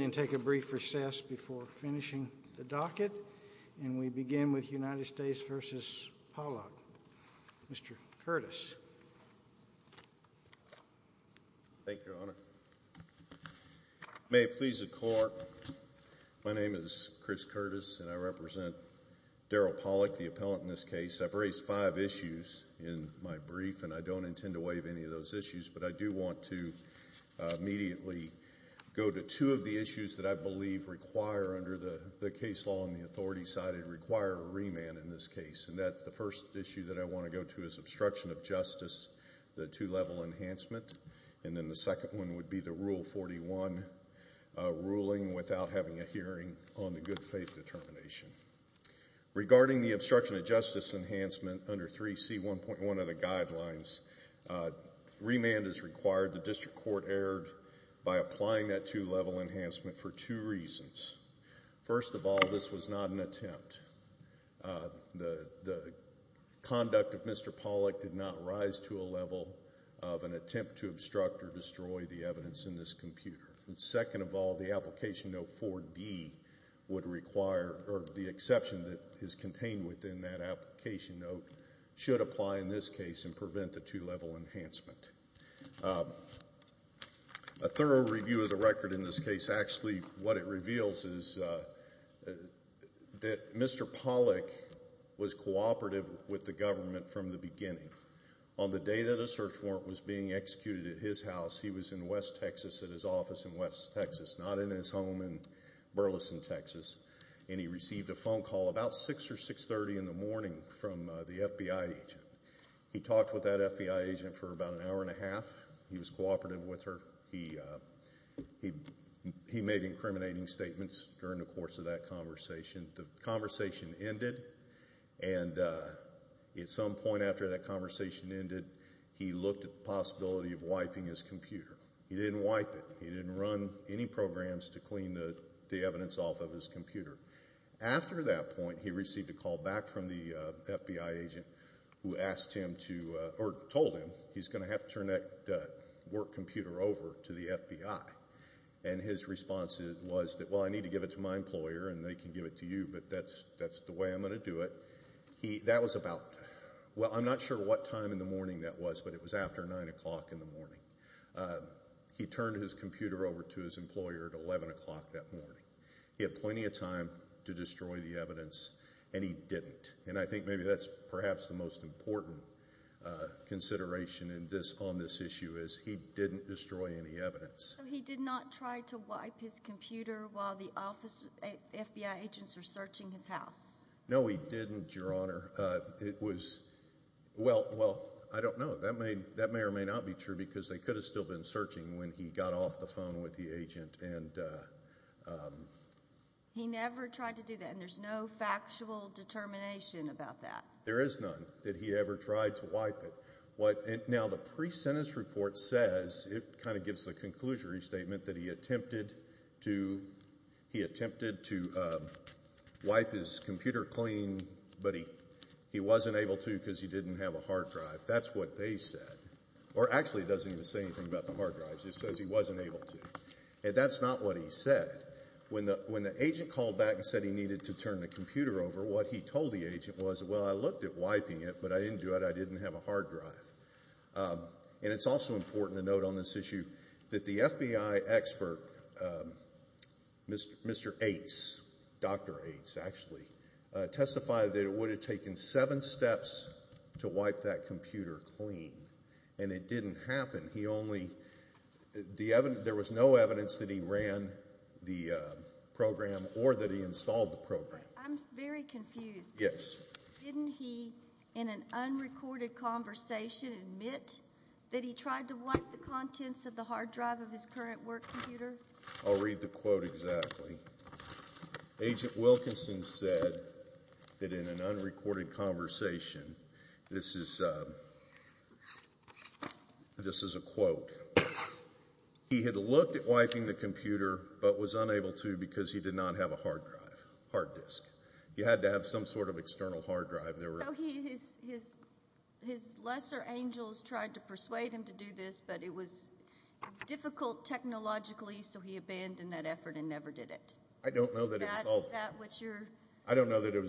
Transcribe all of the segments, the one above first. and take a brief recess before finishing the docket, and we begin with United States v. Pawlak. Mr. Curtis. Thank you, Your Honor. May it please the Court, my name is Chris Curtis and I represent Daryl Pawlak, the appellant in this case. I've raised five issues in my brief and I don't intend to waive any of those issues, but I do want to immediately go to two of the issues that I believe require, under the case law on the authority side, require a remand in this case, and that's the first issue that I want to go to is obstruction of justice, the two-level enhancement, and then the second one would be the Rule 41 ruling without having a hearing on the good faith determination. Regarding the obstruction of justice enhancement under 3C1.1 of the guidelines, remand is required. The district court erred by applying that two-level enhancement for two reasons. First of all, this was not an attempt. The conduct of Mr. Pawlak did not rise to a level of an attempt to obstruct or destroy the evidence in this computer. Second of all, the application note 4D would require, or the exception that is contained within that application note should apply in this case and prevent the two-level enhancement. A thorough review of the record in this case, actually what it reveals is that Mr. Pawlak was cooperative with the government from the beginning. On the day that a search warrant was being executed at his house, he was in West Texas at his office in West Texas, not in his home in Burleson, Texas, and he received a phone call about 6 or 6.30 in the morning from the FBI agent. He talked with that FBI agent for about an hour and a half. He was cooperative with her. He made incriminating statements during the course of that conversation. The conversation ended and at some point after that conversation ended, he looked at the possibility of wiping his computer. He didn't wipe it. He didn't run any programs to clean the evidence off of his computer. After that point, he received a call back from the FBI agent who asked him to, or told him, he's going to have to turn that work computer over to the FBI. And his response was, well I need to give it to my employer and they can give it to you, but that's the way I'm going to do it. That was about, well I'm not sure what time in the morning that was, but it was after 9 o'clock in the morning. He turned his computer over to his employer at 11 o'clock that morning. He had plenty of time to destroy the evidence and he didn't. And I think maybe that's perhaps the most important consideration on this issue is he didn't destroy any evidence. So he did not try to wipe his computer while the FBI agents were searching his house? No he didn't, Your Honor. It was, well, I don't know. That may or may not be true because they could have still been searching when he got off the phone with the agent. He never tried to do that and there's no factual determination about that? There is none that he ever tried to wipe it. Now the pre-sentence report says, it kind but he wasn't able to because he didn't have a hard drive. That's what they said. Or actually it doesn't even say anything about the hard drives. It says he wasn't able to. And that's not what he said. When the agent called back and said he needed to turn the computer over, what he told the agent was, well I looked at wiping it but I didn't do it. I didn't have a hard drive. And it's also important to note on this issue that the FBI expert, Mr. Ates, Dr. Ates actually, testified that it would have taken seven steps to wipe that computer clean. And it didn't happen. He only, there was no evidence that he ran the program or that he installed the program. I'm very confused. Yes. Didn't he, in an unrecorded conversation, admit that he tried to wipe the contents of the hard drive of his current work computer? I'll read the quote exactly. Agent Wilkinson said that in an unrecorded conversation, this is a quote, he had looked at wiping the computer but was unable to because he did not have a hard drive, hard disk. He had to have some sort of external hard drive. So his lesser angels tried to persuade him to do this but it was difficult technologically so he abandoned that effort and never did it. I don't know that it was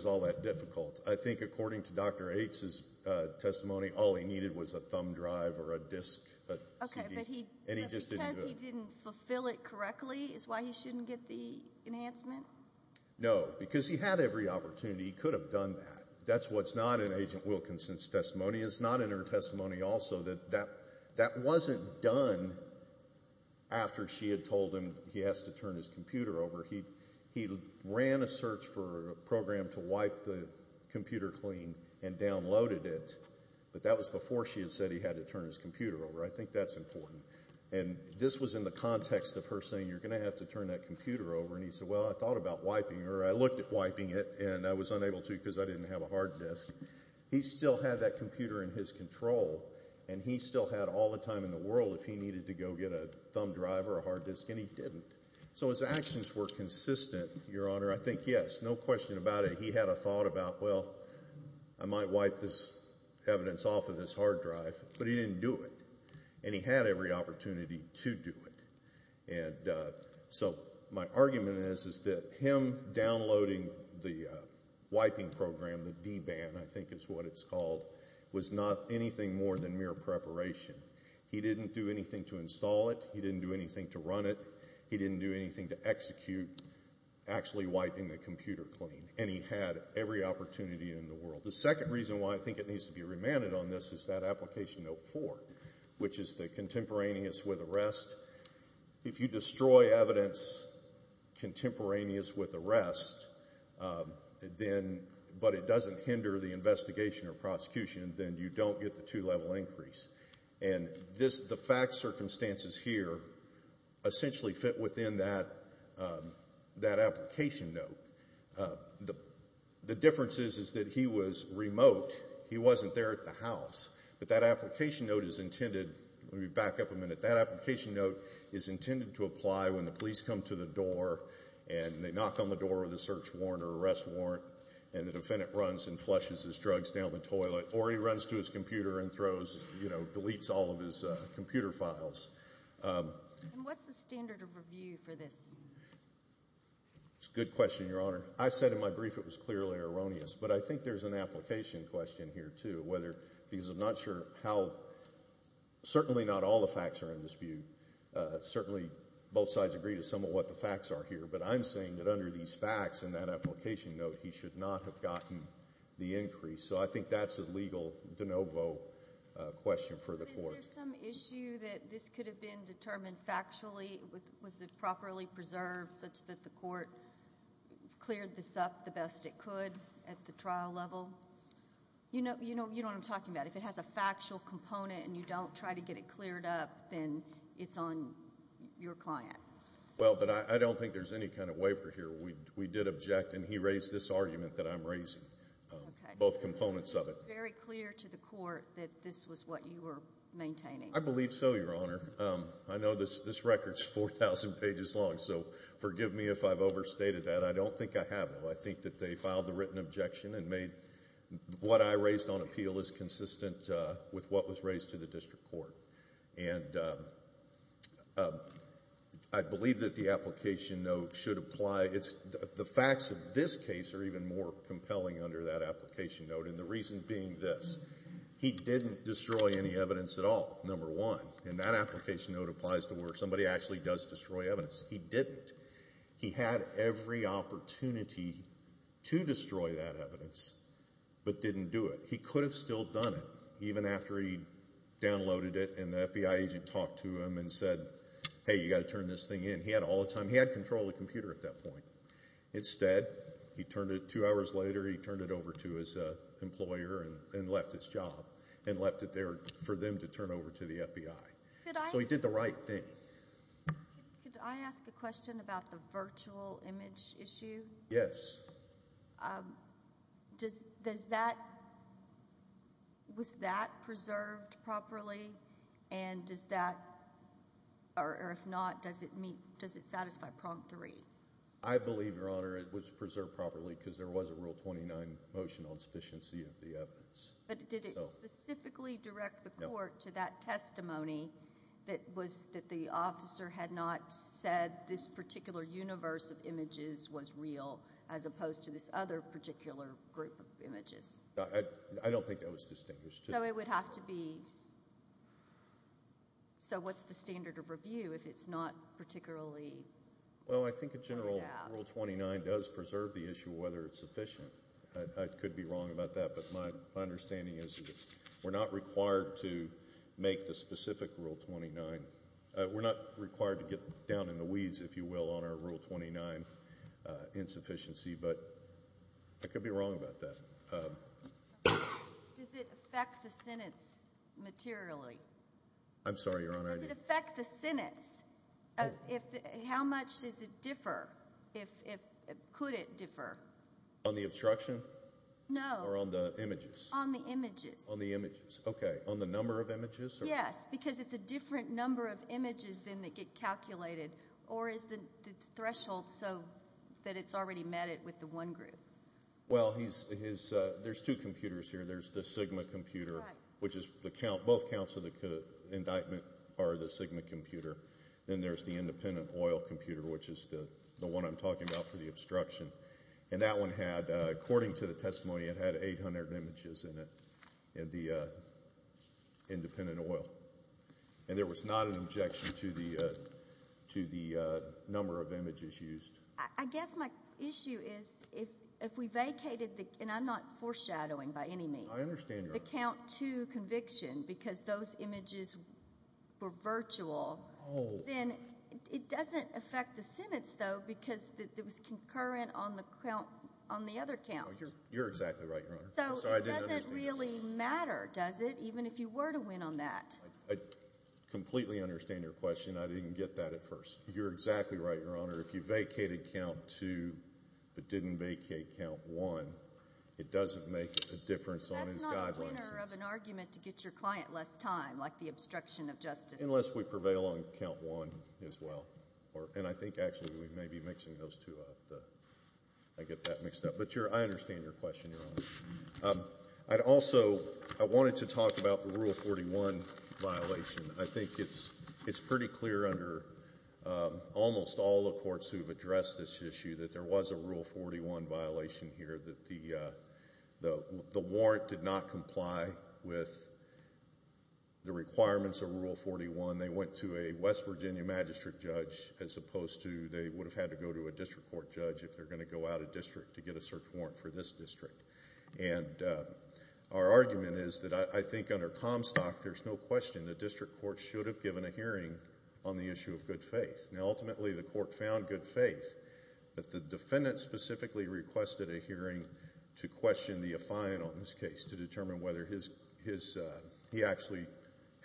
all that difficult. I think according to Dr. Ates' testimony, all he needed was a thumb drive or a disk. Okay, but because he didn't fulfill it correctly is why he shouldn't get the enhancement? No, because he had every opportunity. He could have done that. That's what's not in Agent Wilkinson's testimony. It's not in her testimony also that that wasn't done after she had told him he has to turn his computer over. He ran a search for a program to wipe the computer clean and downloaded it but that was before she had said he had to turn his computer over. I think that's important and this was in the context of her saying you're going to have to turn that computer over and he said well I thought about wiping her. I looked at wiping it and I was unable to because I didn't have a hard disk. He still had that computer in his control and he still had all the time in the world if he needed to go get a thumb drive or a hard disk and he didn't. So his actions were consistent, Your Honor. I think yes, no question about it. He had a thought about well I might wipe this evidence off of this hard drive but he didn't do it and he had every opportunity to do it. So my argument is that him downloading the wiping program, the DBAN I think is what it's called, was not anything more than mere preparation. He didn't do anything to install it. He didn't do anything to run it. He didn't do anything to execute actually wiping the computer clean and he had every opportunity in the world. The second reason why I think it needs to be remanded on this is that application note four which is the contemporaneous with arrest. If you destroy evidence contemporaneous with arrest but it doesn't hinder the investigation or prosecution then you don't get the two level increase and the fact circumstances here essentially fit within that application note. The difference is that he was remote. He wasn't there at the house but that application note is intended, let me back up a minute, that application note is intended to apply when the police come to the door and they knock on the door with a search warrant or arrest warrant and the defendant runs and flushes his drugs down the toilet or he runs to his computer and throws, you know, deletes all of his computer files. And what's the standard of review for this? It's a good question, Your Honor. I said in my brief it was clearly erroneous but I think there's an application question here too because I'm not sure how, certainly not all the facts are in dispute. Certainly both sides agree to some of what the facts are here but I'm saying that under these facts and that application note he should not have gotten the increase so I think that's a legal de novo question for the court. Is there some issue that this could have been determined factually? Was it properly preserved such that the court cleared this up the best it could at the trial level? You know what I'm talking about. If it has a factual component and you don't try to get it cleared up then it's on your client. Well, but I don't think there's any kind of waiver here. We did object and he raised this argument that I'm raising, both components of it. Was it very clear to the court that this was what you were maintaining? I believe so, Your Honor. I know this record is 4,000 pages long so forgive me if I've overstated that. I don't think I have though. I think that they filed the written objection and made what I raised on appeal is consistent with what was raised to the district court. And I believe that the application note should apply. The facts of this case are even more concerning than this. He didn't destroy any evidence at all, number one. And that application note applies to where somebody actually does destroy evidence. He didn't. He had every opportunity to destroy that evidence but didn't do it. He could have still done it even after he downloaded it and the FBI agent talked to him and said, hey, you've got to turn this thing in. He had all the time. He had control of the computer at that point. Instead, he turned it over to his employer and left his job and left it there for them to turn over to the FBI. So he did the right thing. Could I ask a question about the virtual image issue? Yes. Was that preserved properly? And if not, does it satisfy prong three? I believe, Your Honor, it was preserved properly because there was a Rule 29 motion on sufficiency of the evidence. But did it specifically direct the court to that testimony that the officer had not said this particular universe of images was real as opposed to this other particular group of images? I don't think that was distinguished. So it would have to be. So what's the standard of review if it's not particularly? Well, I think a general Rule 29 does preserve the issue whether it's sufficient. I could be wrong about that, but my understanding is that we're not required to make the specific Rule 29. We're not required to get down in the weeds, if you will, on our Rule 29 insufficiency, but I could be wrong about that. Does it affect the sentence materially? I'm sorry, Your Honor. Does it affect the sentence? How much does it differ? Could it differ? On the obstruction? No. Or on the images? On the images. On the images. Okay. On the number of images? Yes, because it's a different number of images than that get calculated. Or is the threshold so that it's already met it with the one group? Well, there's two computers here. There's the Sigma computer, which is both counts of indictment are the Sigma computer. Then there's the independent oil computer, which is the one I'm talking about for the obstruction. And that one had, according to the testimony, it had 800 images in it, in the independent oil. And there was not an objection to the number of images used. I guess my issue is if we vacated the, and I'm not foreshadowing by any means. I understand, Your Honor. If we vacated the count two conviction because those images were virtual, then it doesn't affect the sentence, though, because it was concurrent on the other count. You're exactly right, Your Honor. So it doesn't really matter, does it, even if you were to win on that? I completely understand your question. I didn't get that at first. You're exactly right, Your Honor. If you vacated count two but didn't vacate count one, it doesn't make a difference on his guidelines. That's not a winner of an argument to get your client less time, like the obstruction of justice. Unless we prevail on count one as well. And I think, actually, we may be mixing those two up. I get that mixed up. But I understand your question, Your Honor. I'd also, I wanted to talk about the Rule 41 violation. I think it's pretty clear under almost all the courts who have addressed this issue that there was a Rule 41 violation here, that the warrant did not comply with the requirements of Rule 41. They went to a West Virginia magistrate judge as opposed to they would have had to go to a district court judge if they're going to go out of district to get a search warrant for this district. And our argument is that I think under Comstock, there's no question the district court should have given a hearing on the issue of good faith. Now, ultimately, the court found good hearing to question the affine on this case to determine whether he actually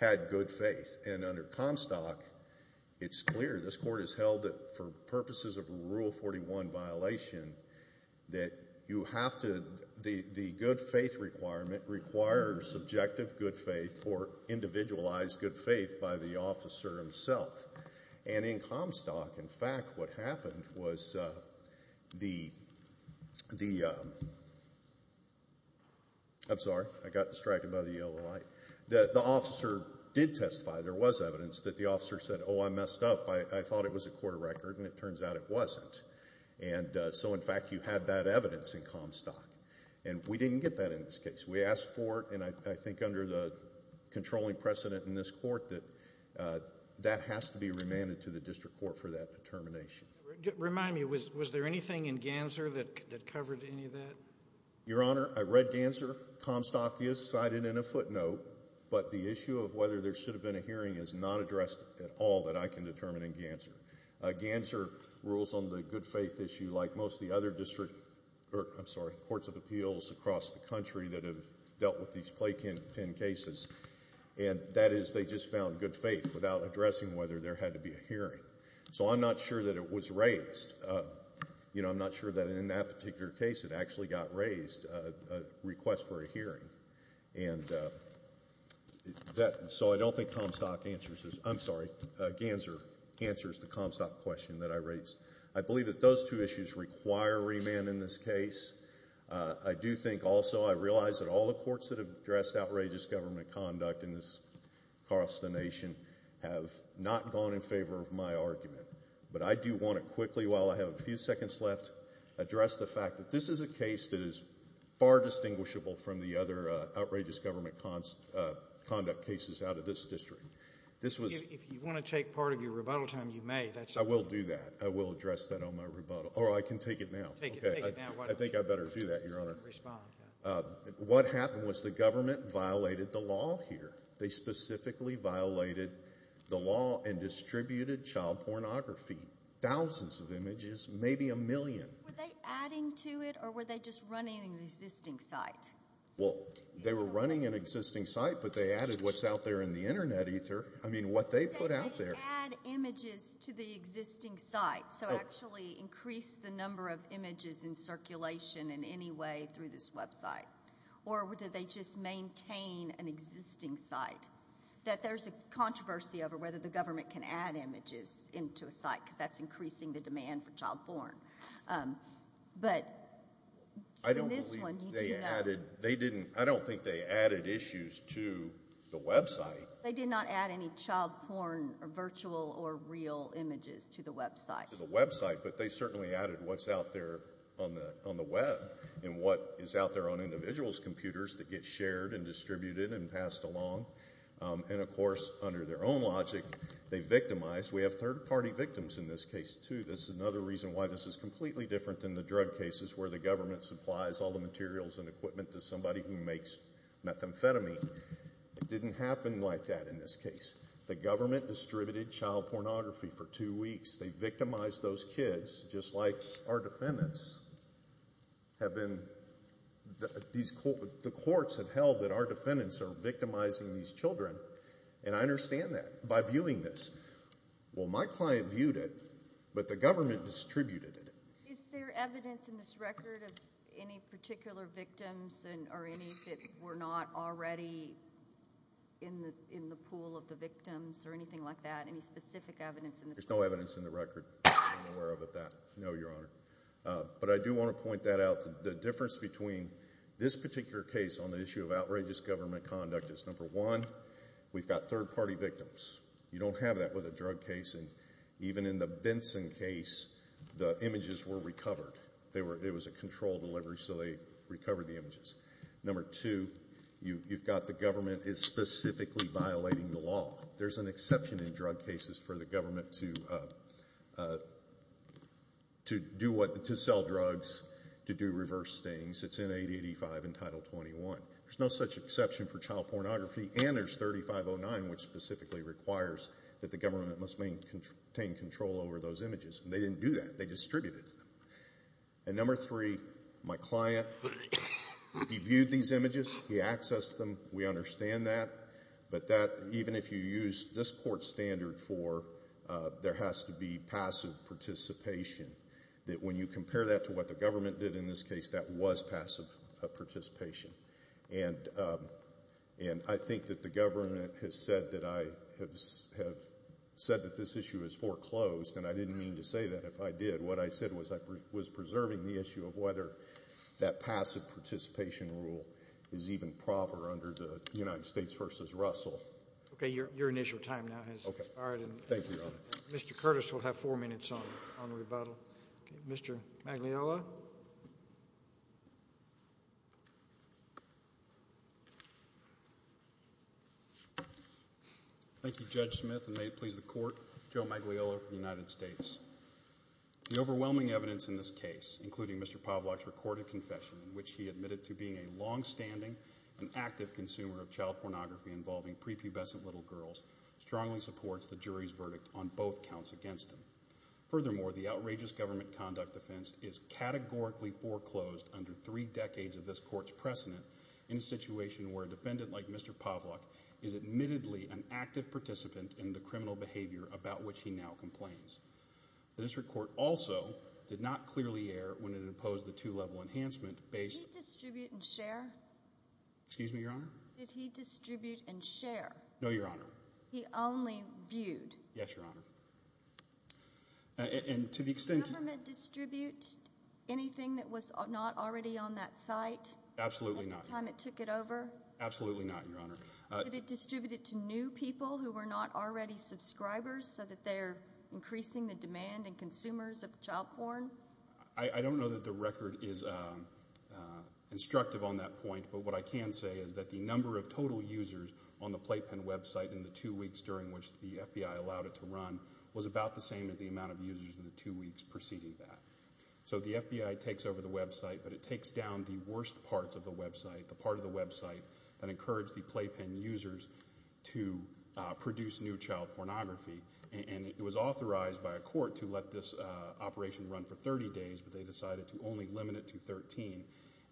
had good faith. And under Comstock, it's clear. This court has held that for purposes of Rule 41 violation that you have to, the good faith requirement requires subjective good faith or individualized good faith by the officer himself. And in Comstock, in fact, what happened was the, I'm sorry. I got distracted by the yellow light. The officer did testify. There was evidence that the officer said, oh, I messed up. I thought it was a court of record, and it turns out it wasn't. And so, in fact, you had that evidence in Comstock. And we didn't get that in this case. We asked for it, and I think under the controlling precedent in this court that that has to be remanded to the district court for that determination. Remind me, was there anything in Ganser that covered any of that? Your Honor, I read Ganser. Comstock is cited in a footnote, but the issue of whether there should have been a hearing is not addressed at all that I can determine in Ganser. Ganser rules on the good faith issue like most of the other district, I'm sorry, courts of appeals across the country that have dealt with these playpen cases, and that is they just found good faith without addressing whether there had to be a hearing. So I'm not sure that it was raised. You know, I'm not sure that in that particular case it actually got raised, a request for a hearing. And that, so I don't think Comstock answers, I'm sorry, Ganser answers the Comstock question that I raised. I believe that those two issues require remand in this case. I do think also, I realize that all the courts that have addressed outrageous government conduct in this consternation have not gone in favor of my argument. But I do want to quickly, while I have a few seconds left, address the fact that this is a case that is far distinguishable from the other outrageous government conduct cases out of this district. This was... If you want to take part of your rebuttal time, you may. I will do that. I will address that on my rebuttal. Or I can take it now. Take it now. I think I better do that, Your Honor. Respond. What happened was the government violated the law here. They specifically violated the law and distributed child pornography. Thousands of images, maybe a million. Were they adding to it or were they just running an existing site? Well, they were running an existing site, but they added what's out there in the Internet, either. I mean, what they put out there... They didn't add images to the existing site. So actually increase the number of images in circulation in any way through this website. Or did they just maintain an existing site? There's a controversy over whether the government can add images into a site because that's increasing the demand for child porn. But... I don't believe they added... I don't think they added issues to the website. They did not add any child porn or virtual or real images to the website. But they certainly added what's out there on the web and what is out there on individuals' computers that get shared and distributed and passed along. And, of course, under their own logic, they victimized. We have third-party victims in this case, too. This is another reason why this is completely different than the drug cases where the government supplies all the materials and equipment to somebody who makes methamphetamine. It didn't happen like that in this case. The government distributed child pornography for two weeks. They victimized those kids, just like our defendants have been... The courts have held that our defendants are victimizing these children. And I understand that by viewing this. Well, my client viewed it, but the government distributed it. Is there evidence in this record of any particular victims or any that were not already in the pool of the victims or anything like that? Any specific evidence in this record? There's no evidence in the record that I'm aware of of that, no, Your Honor. But I do want to point that out. The difference between this particular case on the issue of outrageous government conduct is, number one, we've got third-party victims. You don't have that with a drug case. And even in the Benson case, the images were recovered. It was a controlled delivery, so they recovered the images. Number two, you've got the government specifically violating the law. There's an exception in drug cases for the government to sell drugs, to do reverse things. It's in 8085 and Title 21. There's no such exception for child pornography. And there's 3509, which specifically requires that the government must maintain control over those images. And they didn't do that. They distributed them. And number three, my use this Court standard for there has to be passive participation, that when you compare that to what the government did in this case, that was passive participation. And I think that the government has said that I have said that this issue is foreclosed, and I didn't mean to say that. If I did, what I said was I was preserving the issue of whether that Your initial time now has expired. Thank you, Your Honor. Mr. Curtis will have four minutes on rebuttal. Mr. Magliela? Thank you, Judge Smith, and may it please the Court, Joe Magliela of the United States. The overwhelming evidence in this case, including Mr. Povlock's recorded confession in which he admitted to being a longstanding and active consumer of child pornography involving prepubescent little girls, strongly supports the jury's verdict on both counts against him. Furthermore, the outrageous government conduct offense is categorically foreclosed under three decades of this Court's precedent in a situation where a defendant like Mr. Povlock is admittedly an active participant in the criminal behavior about which he now complains. The District Court also did not clearly err when it imposed the two-level enhancement based... Did he distribute and share? Excuse me, Your Honor? Did he distribute and share? No, Your Honor. He only viewed? Yes, Your Honor. And to the extent... Did the government distribute anything that was not already on that site? Absolutely not. At the time it took it over? Absolutely not, Your Honor. Did it distribute it to new people who were not already subscribers so that they're increasing the demand and consumers of child porn? I don't know that the record is instructive on that point, but what I can say is that the number of total users on the Playpen website in the two weeks during which the FBI allowed it to run was about the same as the amount of users in the two weeks preceding that. So the FBI takes over the website, but it takes down the worst parts of the website, the part of the website that encouraged the Playpen users to produce new child pornography. And it was authorized by a court to let this operation run for 30 days, but they decided to only limit it to 13.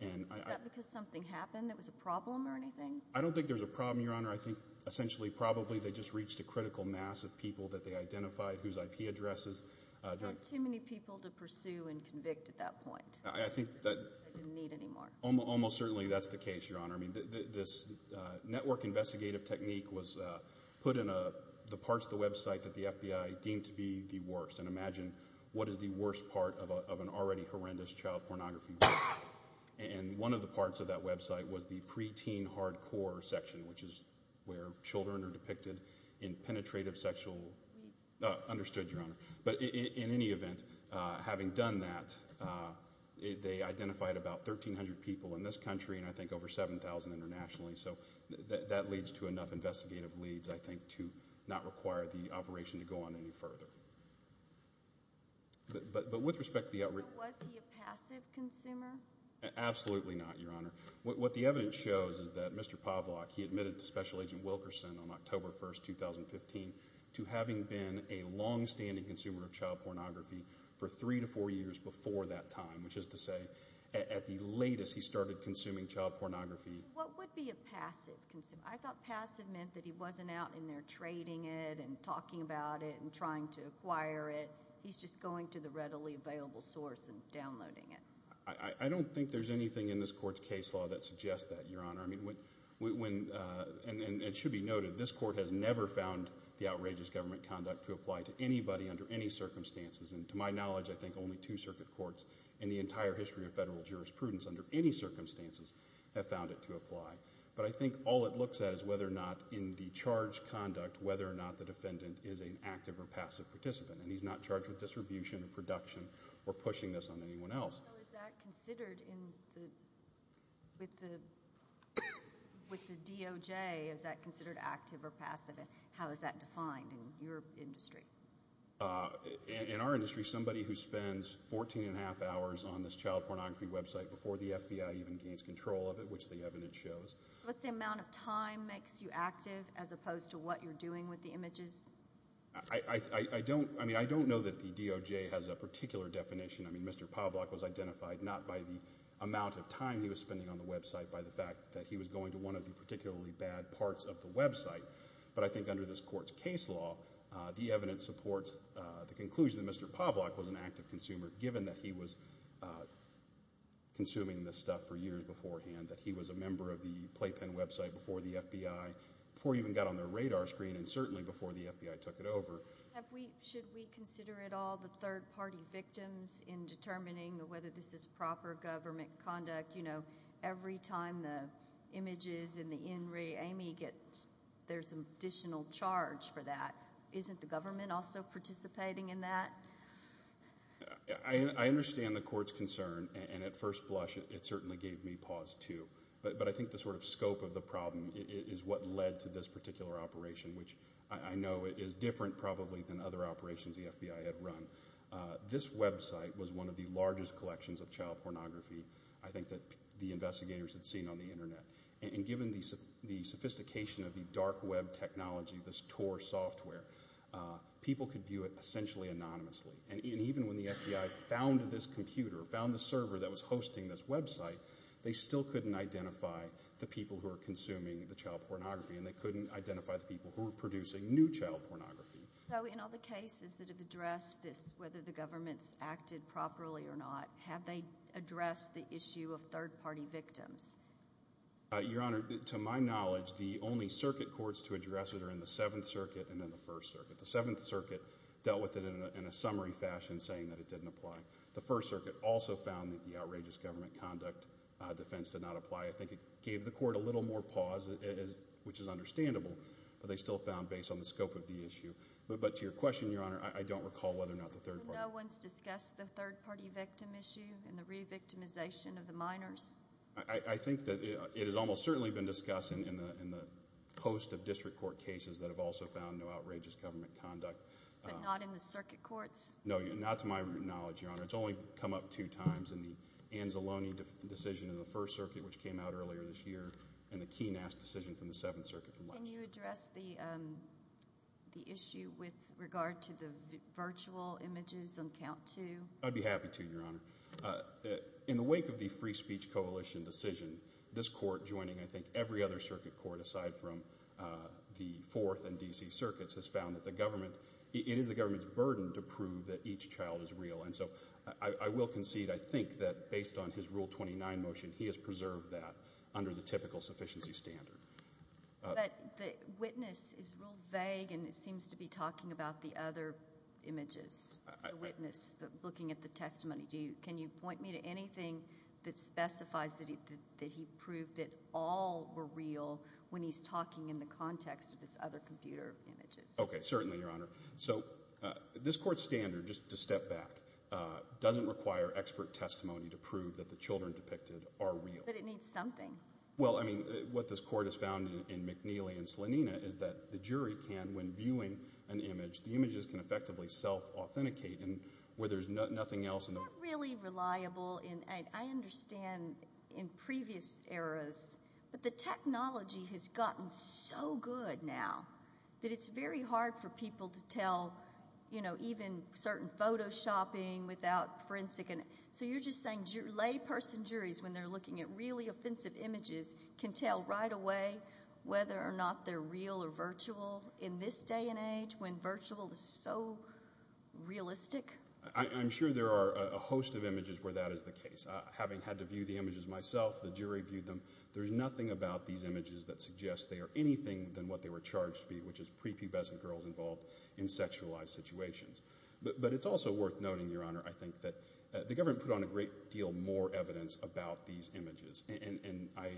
And I... Is that because something happened that was a problem or anything? I don't think there's a problem, Your Honor. I think essentially probably they just reached a critical mass of people that they identified whose IP addresses... Not too many people to pursue and convict at that point. I think that... They didn't need anymore. Almost certainly that's the case, Your Honor. I mean, this network investigative technique was put in the parts of the website that the FBI deemed to be the worst. And imagine what is the worst part of an already horrendous child pornography website. And one of the parts of that website was the pre-teen hardcore section, which is where children are depicted in penetrative sexual... Understood, Your Honor. But in any event, having done that, they identified about 1,300 people in this country and I think over 7,000 internationally. So that leads to enough to not require the operation to go on any further. But with respect to the... So was he a passive consumer? Absolutely not, Your Honor. What the evidence shows is that Mr. Pavlak, he admitted to Special Agent Wilkerson on October 1st, 2015, to having been a long standing consumer of child pornography for three to four years before that time, which is to say at the latest he started consuming child pornography... What would be a passive consumer? I thought passive meant that he wasn't out in there trading it and talking about it and trying to acquire it. He's just going to the readily available source and downloading it. I don't think there's anything in this court's case law that suggests that, Your Honor. And it should be noted, this court has never found the outrageous government conduct to apply to anybody under any circumstances. And to my knowledge, I think only two circuit courts in the entire history of federal jurisprudence under any circumstances have found it to apply. But I think all it looks at is whether or not in the charge conduct, whether or not the defendant is an active or passive participant. And he's not charged with distribution or production or pushing this on anyone else. So is that considered in the... With the DOJ, is that considered active or passive? And how is that defined in your industry? In our industry, somebody who spends 14 and a half hours on this child pornography website before the FBI even gains control of it, which the evidence shows. What's the amount of time makes you active as opposed to what you're doing with the images? I don't know that the DOJ has a particular definition. I mean, Mr. Pavlak was identified not by the amount of time he was spending on the website, by the fact that he was going to one of the particularly bad parts of the website. But I think under this court's case law, the evidence supports the conclusion that Mr. Pavlak was an active consumer, given that he was consuming this stuff for years beforehand, that he was a member of the playpen website before the FBI, before it even got on their radar screen, and certainly before the FBI took it over. Should we consider at all the third-party victims in determining whether this is proper government conduct? You know, every time the images in the in-ray, Amy gets... There's an additional charge for that. Isn't the government also participating in that? I understand the court's concern, and at first blush, it certainly gave me pause, too. But I think the sort of scope of the problem is what led to this particular operation, which I know is different probably than other operations the FBI had run. This website was one of the largest collections of child pornography, I think, that the investigators had seen on the Internet. And given the sophistication of the dark web technology, this TOR software, people could view it essentially anonymously. And even when the FBI found this computer, found the server that was hosting this website, they still couldn't identify the people who were consuming the child pornography, and they couldn't identify the people who were producing new child pornography. So in all the cases that have addressed this, whether the government's acted properly or not, have they addressed the issue of third-party victims? Your Honor, to my knowledge, the only circuit courts to address it are in the Seventh Circuit and in the First Circuit. The Seventh Circuit dealt with it in a summary fashion, saying that it didn't apply. The First Circuit also found that the outrageous government conduct defense did not apply. I think it gave the court a little more pause, which is understandable, but they still found based on the scope of the issue. But to your question, no one's discussed the third-party victim issue and the re-victimization of the minors? I think that it has almost certainly been discussed in the host of district court cases that have also found no outrageous government conduct. But not in the circuit courts? No, not to my knowledge, Your Honor. It's only come up two times in the Anzalone decision in the First Circuit, which came out earlier this year, and the Keenass decision from the Seventh Circuit from last year. Can you address the issue with regard to the virtual images on count two? I'd be happy to, Your Honor. In the wake of the Free Speech Coalition decision, this court, joining I think every other circuit court aside from the Fourth and D.C. Circuits, has found that it is the government's burden to prove that each child is real. And so I will concede, I think, that based on his Rule 29 motion, he has preserved that under the typical sufficiency standard. But the witness is real vague and seems to be talking about the other images. The witness looking at the testimony. Can you point me to anything that specifies that he proved that all were real when he's talking in the context of his other computer images? Okay, certainly, Your Honor. So this court's standard, just to step back, doesn't require expert testimony to prove that the children depicted are real. But it needs something. Well, I mean, what this court has found in McNeely and Slonina is that the jury can, when viewing an image, the images can effectively self-authenticate and where there's nothing else in them. It's not really reliable. I understand in previous eras. But the technology has gotten so good now that it's very hard for people to tell, you know, even certain Photoshopping without forensic. So you're just saying layperson juries, when they're looking at really offensive images, can tell right away whether or not they're real or virtual in this day and age when virtual is so realistic? I'm sure there are a host of images where that is the case. Having had to view the images myself, the jury viewed them. There's nothing about these images that suggests they are anything than what they were charged to be, which is prepubescent girls involved in sexualized situations. But it's also worth noting, Your Honor, I think that the government put on a great deal more evidence about these images. And I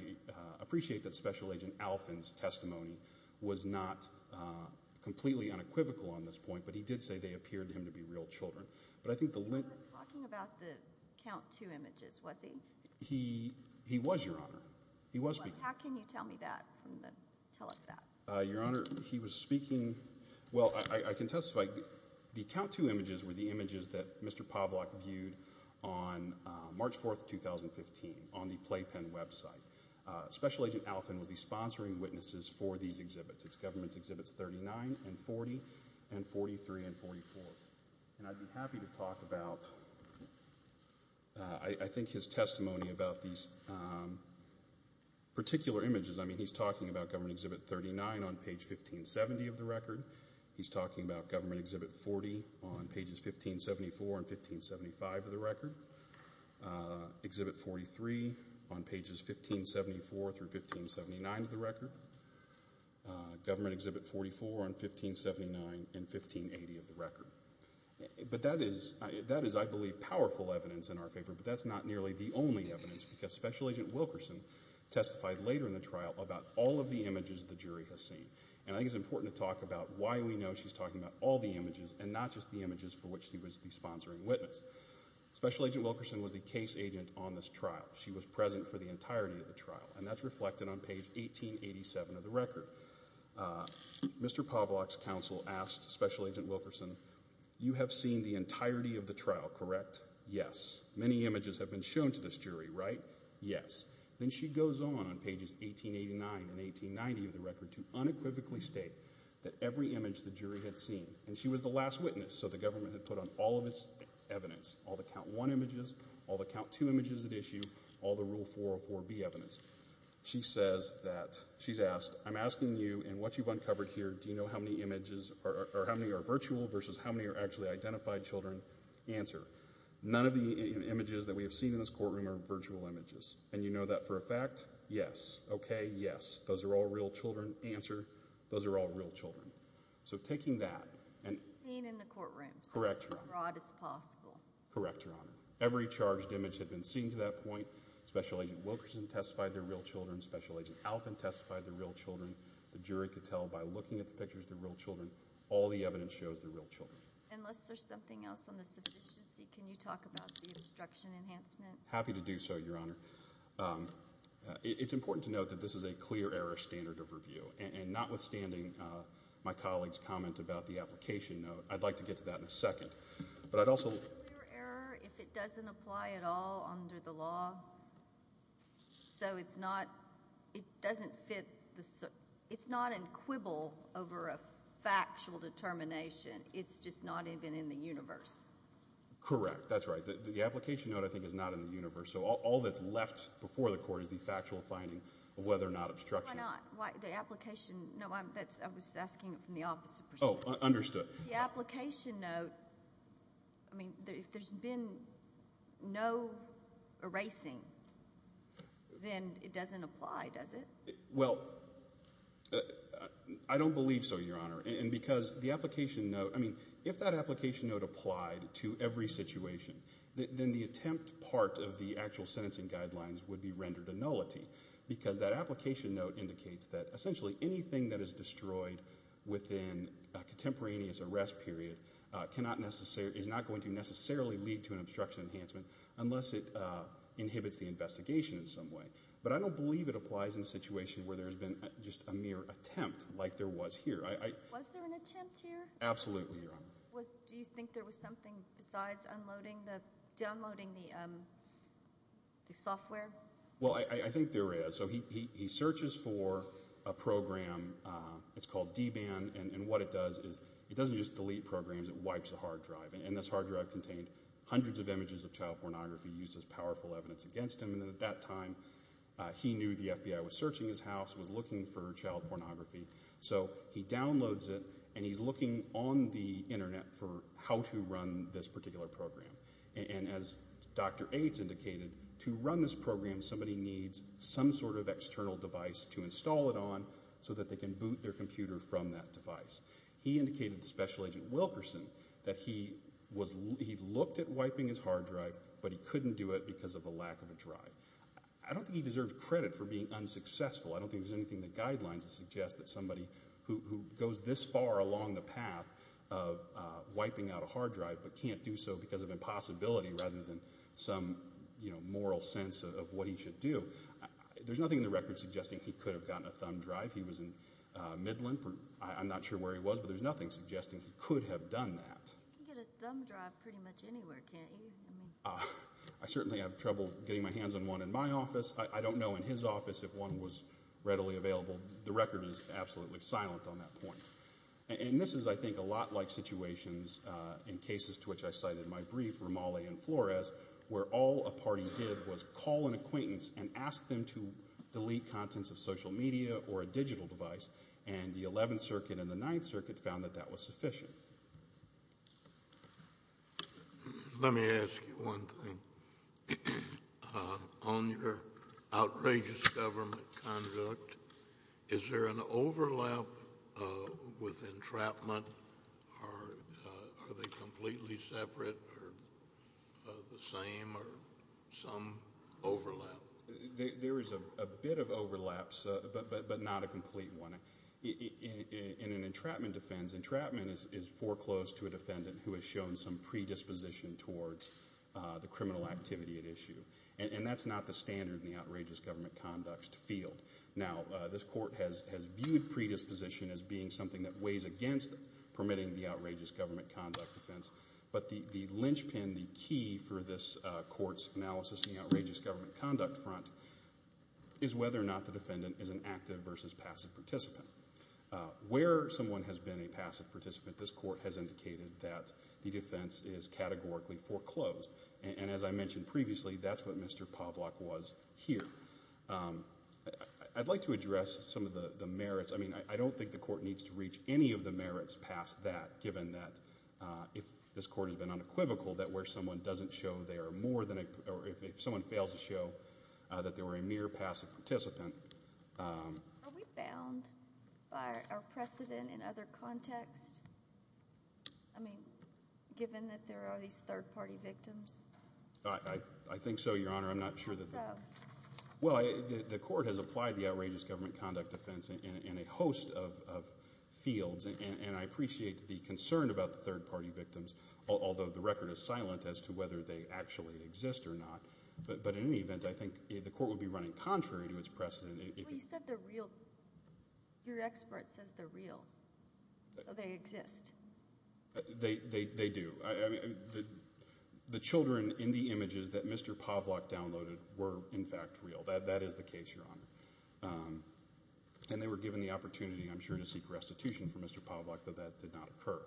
appreciate that Special Agent Alfin's testimony was not completely unequivocal on this point, but he did say they appeared to him to be real children. He wasn't talking about the Count II images, was he? He was, Your Honor. He was speaking. How can you tell me that? Tell us that. Your Honor, he was speaking. Well, I can testify. The Count II images were the images that were on March 4, 2015, on the Playpen website. Special Agent Alfin was the sponsoring witnesses for these exhibits. It's Government Exhibits 39 and 40 and 43 and 44. And I'd be happy to talk about, I think, his testimony about these particular images. I mean, he's talking about Government Exhibit 39 on page 1570 of the record. He's talking about Government Exhibit 40 on pages 1574 and 1575 of the record. Exhibit 43 on pages 1574 through 1579 of the record. Government Exhibit 44 on 1579 and 1580 of the record. But that is, I believe, powerful evidence in our favor, but that's not nearly the only evidence, because Special Agent Wilkerson testified later in the trial about all of the images the jury has seen. And I think it's important to talk about why we know she's talking about all the images and not just the images for which she was the sponsoring witness. Special Agent Wilkerson was the case agent on this trial. She was present for the entirety of the trial, and that's reflected on page 1887 of the record. Mr. Pavlok's counsel asked Special Agent Wilkerson, you have seen the entirety of the trial, correct? Yes. Many images have been shown to this jury, right? Yes. Then she goes on, on pages 1889 and 1890 of the record, to unequivocally state that every image the jury had seen. And she was the last witness, so the government had put on all of its evidence, all the count one images, all the count two images at issue, all the rule 404B evidence. She says that, she's asked, I'm asking you in what you've uncovered here, do you know how many images, or how many are virtual versus how many are actually identified children? Answer. None of the images that we have seen in this courtroom are virtual images. And you know that for a fact? Yes. Okay, yes. Those are all real children. Answer. Those are all real children. So taking that. Seen in the courtroom. Correct, Your Honor. As broad as possible. Correct, Your Honor. Every charged image had been seen to that point. Special Agent Wilkerson testified they're real children. Special Agent Alvin testified they're real children. The jury could tell by looking at the pictures they're real children, all the evidence shows they're real children. Unless there's something else on the sufficiency, can you talk about the obstruction enhancement? Happy to do so, Your Honor. It's important to note that this is a clear error standard of review, and notwithstanding my colleague's comment about the application note, I'd like to get to that in a second. But I'd also... Clear error if it doesn't apply at all under the law? So it's not, it doesn't fit, it's not in quibble over a factual determination, it's just not even in the universe? Correct, that's right. The application note, I think, is not in the universe, so all that's left before the court is the factual finding of whether or not obstruction... Why not? The application... No, I was asking it from the opposite perspective. Oh, understood. The application note, I mean, if there's been no erasing, then it doesn't apply, does it? Well, I don't believe so, Your Honor, and because the application note, I mean, if that application note applied to every situation, then the attempt part of the actual sentencing guidelines would be rendered a nullity, because that application note indicates that essentially anything that is destroyed within a contemporaneous arrest period cannot necessarily, is not going to necessarily lead to an obstruction enhancement unless it inhibits the investigation in some way. But I don't believe it applies in a situation where there's been just a mere attempt like there was here. Was there an attempt here? Absolutely, Your Honor. Do you think there was something besides downloading the software? Well, I think there is. So he searches for a program, it's called D-Ban, and what it does is it doesn't just delete programs, it wipes a hard drive, and this hard drive contained hundreds of images of child pornography used as powerful evidence against him, and at that time, he knew the FBI was searching his house, was looking for child pornography, so he downloads it, and he's looking on the internet for how to run this particular program. And as Dr. Aydes indicated, to run this program, somebody needs some sort of external device to install it on so that they can boot their computer from that device. He indicated to Special Agent Wilkerson that he looked at wiping his hard drive, but he couldn't do it because of a lack of a drive. I don't think he deserves credit for being unsuccessful. I don't think there's anything in the guidelines that suggests that somebody who goes this far along the path of wiping out a hard drive but can't do so because of impossibility rather than some moral sense of what he should do. There's nothing in the record suggesting he could have gotten a thumb drive. He was in Midland. I'm not sure where he was, but there's nothing suggesting he could have done that. You can get a thumb drive pretty much anywhere, can't you? I certainly have trouble getting my hands on one in my office. I don't know in his office if it's readily available. The record is absolutely silent on that point. And this is, I think, a lot like situations in cases to which I cited in my brief for Molle and Flores, where all a party did was call an acquaintance and ask them to delete contents of social media or a digital device, and the 11th Circuit and the 9th Circuit found that that was sufficient. Let me ask you one thing. On your outrageous government conduct, is there an overlap with entrapment? Are they completely separate or the same or some overlap? There is a bit of overlap, but not a complete one. In an entrapment defense, entrapment is foreclosed to a defendant who has shown some predisposition towards the criminal activity at issue, and that's not the standard in the outrageous government conduct field. Now, this court has viewed predisposition as being something that weighs against permitting the outrageous government conduct defense, but the lynchpin, the key for this court's analysis in the outrageous government conduct front, is whether or not the defendant is an active versus passive participant. Where someone has been a passive participant, this court has indicated that the defense is categorically foreclosed, and as I mentioned previously, that's what Mr. Pavlak was here. I'd like to address some of the merits. I mean, I don't think the court needs to reach any of the merits past that, given that if this court has been unequivocal that where someone doesn't show they are more than a or if someone fails to show that they were a mere passive participant. Are we bound by our precedent in other contexts? I mean, given that there are these third-party victims? I think so, Your Honor. I'm not sure that they are. Well, the court has applied the outrageous government conduct defense in a host of fields, and I appreciate the concern about the third-party victims, although the record is silent as to whether they actually exist or not. But in any event, I think the court would be running contrary to its precedent. But you said they're real. Your expert says they're real, so they exist. They do. I mean, the children in the images that Mr. Pavlak downloaded were, in fact, real. That is the case, Your Honor. And they were given the opportunity, I'm sure, to seek restitution from Mr. Pavlak, though that did not occur.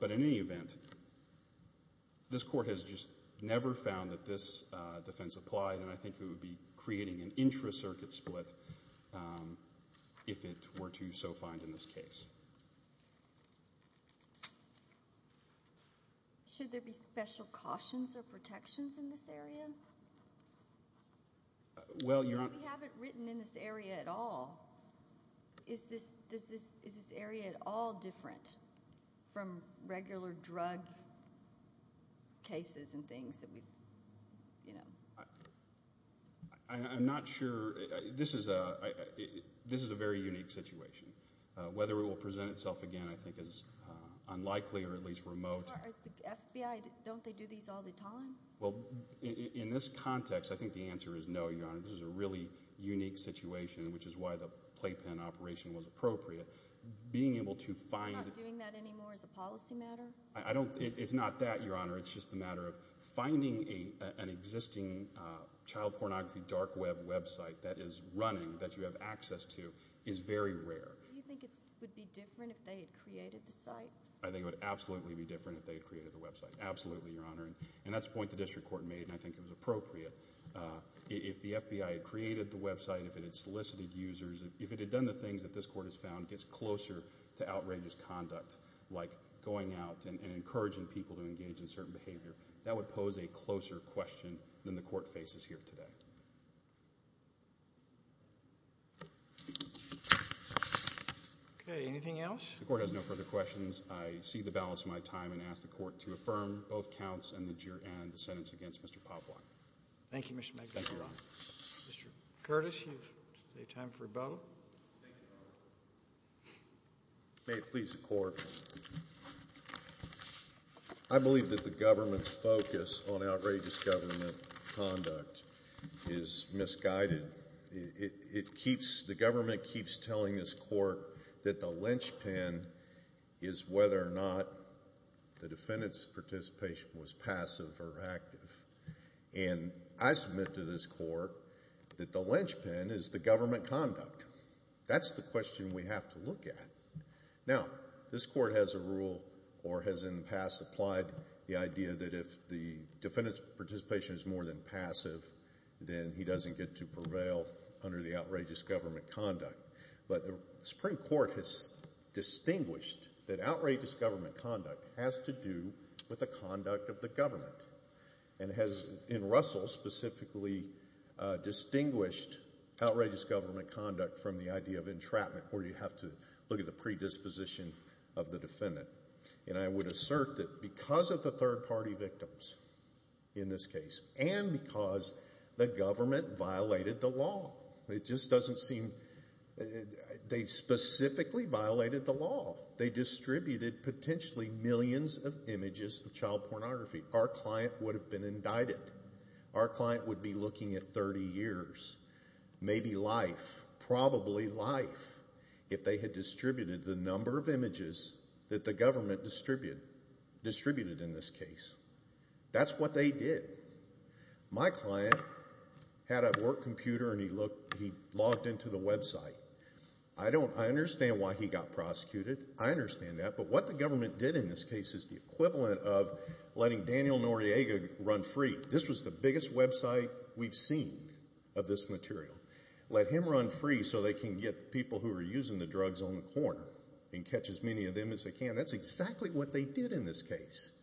But in any event, this court has just never found that this defense applied, and I think it would be creating an intra-circuit split if it were to so find in this case. Should there be special cautions or protections in this area? We haven't written in this area at all. Is this area at all different from regular drug cases and things that we've, you know? I'm not sure. This is a very unique situation. Whether it will present itself again, I think, is unlikely or at least remote. The FBI, don't they do these all the time? Well, in this context, I think the answer is no, Your Honor. This is a really unique situation, which is why the playpen operation was appropriate. Being able to find— They're not doing that anymore as a policy matter? It's not that, Your Honor. It's just the matter of finding an existing child pornography dark web website that is running, that you have access to, is very rare. Do you think it would be different if they had created the site? I think it would absolutely be different if they had created the website. Absolutely, Your Honor. And that's a point the district court made, and I think it was appropriate. If the FBI had created the website, if it had solicited users, if it had done the things that this court has found gets closer to outrageous conduct, like going out and encouraging people to engage in certain behavior, that would pose a closer question than the court faces here today. Okay. Anything else? The court has no further questions. I cede the balance of my time and ask the court to affirm both counts and the sentence against Mr. Povlock. Thank you, Mr. Magnus. Thank you, Your Honor. Mr. Curtis, you have time for a vote. Thank you, Your Honor. May it please the court. I believe that the government's focus on outrageous government conduct is misguided. The government keeps telling this court that the linchpin is whether or not the defendant's participation was passive or active, and I submit to this court that the linchpin is the government conduct. That's the question we have to look at. Now, this court has a rule or has in the past applied the idea that if the defendant's participation is more than passive, then he doesn't get to prevail under the outrageous government conduct. But the Supreme Court has distinguished that outrageous government conduct has to do with the conduct of the government and has in Russell specifically distinguished outrageous government conduct from the idea of entrapment where you have to look at the predisposition of the defendant. And I would assert that because of the third-party victims in this case and because the government violated the law. It just doesn't seem they specifically violated the law. They distributed potentially millions of images of child pornography. Our client would have been indicted. Our client would be looking at 30 years, maybe life, probably life, if they had distributed the number of images that the government distributed in this case. That's what they did. My client had a work computer and he logged into the website. I understand why he got prosecuted. I understand that. But what the government did in this case is the equivalent of letting Daniel Noriega run free. This was the biggest website we've seen of this material. Let him run free so they can get people who are using the drugs on the corner and catch as many of them as they can. That's exactly what they did in this case.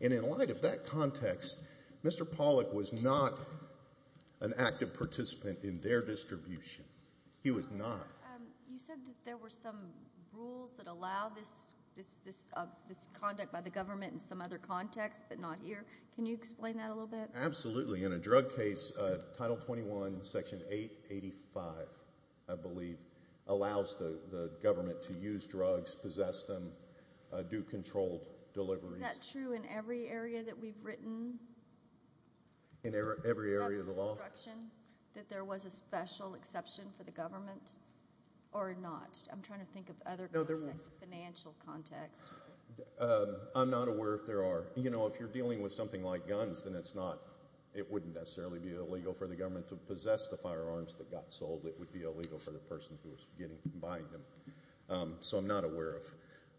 And in light of that context, Mr. Pollack was not an active participant in their distribution. He was not. You said that there were some rules that allow this conduct by the government in some other context but not here. Can you explain that a little bit? Absolutely. In a drug case, Title 21, Section 885, I believe, allows the government to use drugs, possess them, do controlled deliveries. Is that true in every area that we've written? In every area of the law? That there was a special exception for the government or not? I'm trying to think of other financial contexts. I'm not aware if there are. If you're dealing with something like guns, then it wouldn't necessarily be illegal for the government to possess the firearms that got sold. It would be illegal for the person who was buying them. So I'm not aware of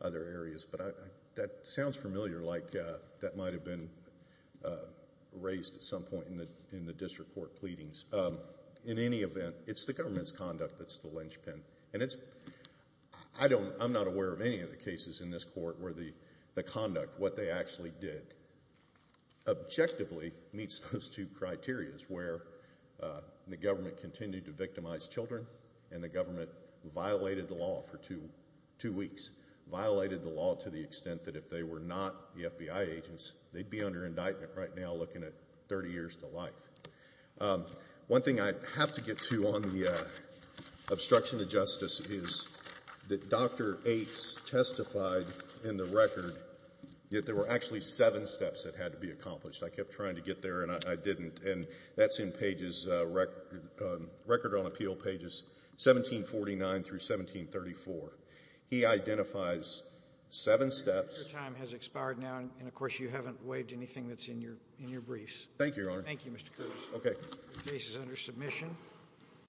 other areas. But that sounds familiar like that might have been raised at some point in the district court pleadings. In any event, it's the government's conduct that's the linchpin. I'm not aware of any of the cases in this court where the conduct, what they actually did, objectively meets those two criterias where the government continued to victimize children and the government violated the law for two weeks, violated the law to the extent that if they were not the FBI agents, they'd be under indictment right now looking at 30 years to life. One thing I have to get to on the obstruction of justice is that Dr. Ates testified in the record that there were actually seven steps that had to be accomplished. I kept trying to get there, and I didn't. And that's in pages record on appeal, pages 1749 through 1734. He identifies seven steps. Your time has expired now. And, of course, you haven't waived anything that's in your briefs. Thank you, Your Honor. Thank you, Mr. Kurtz. Okay. The case is under submission.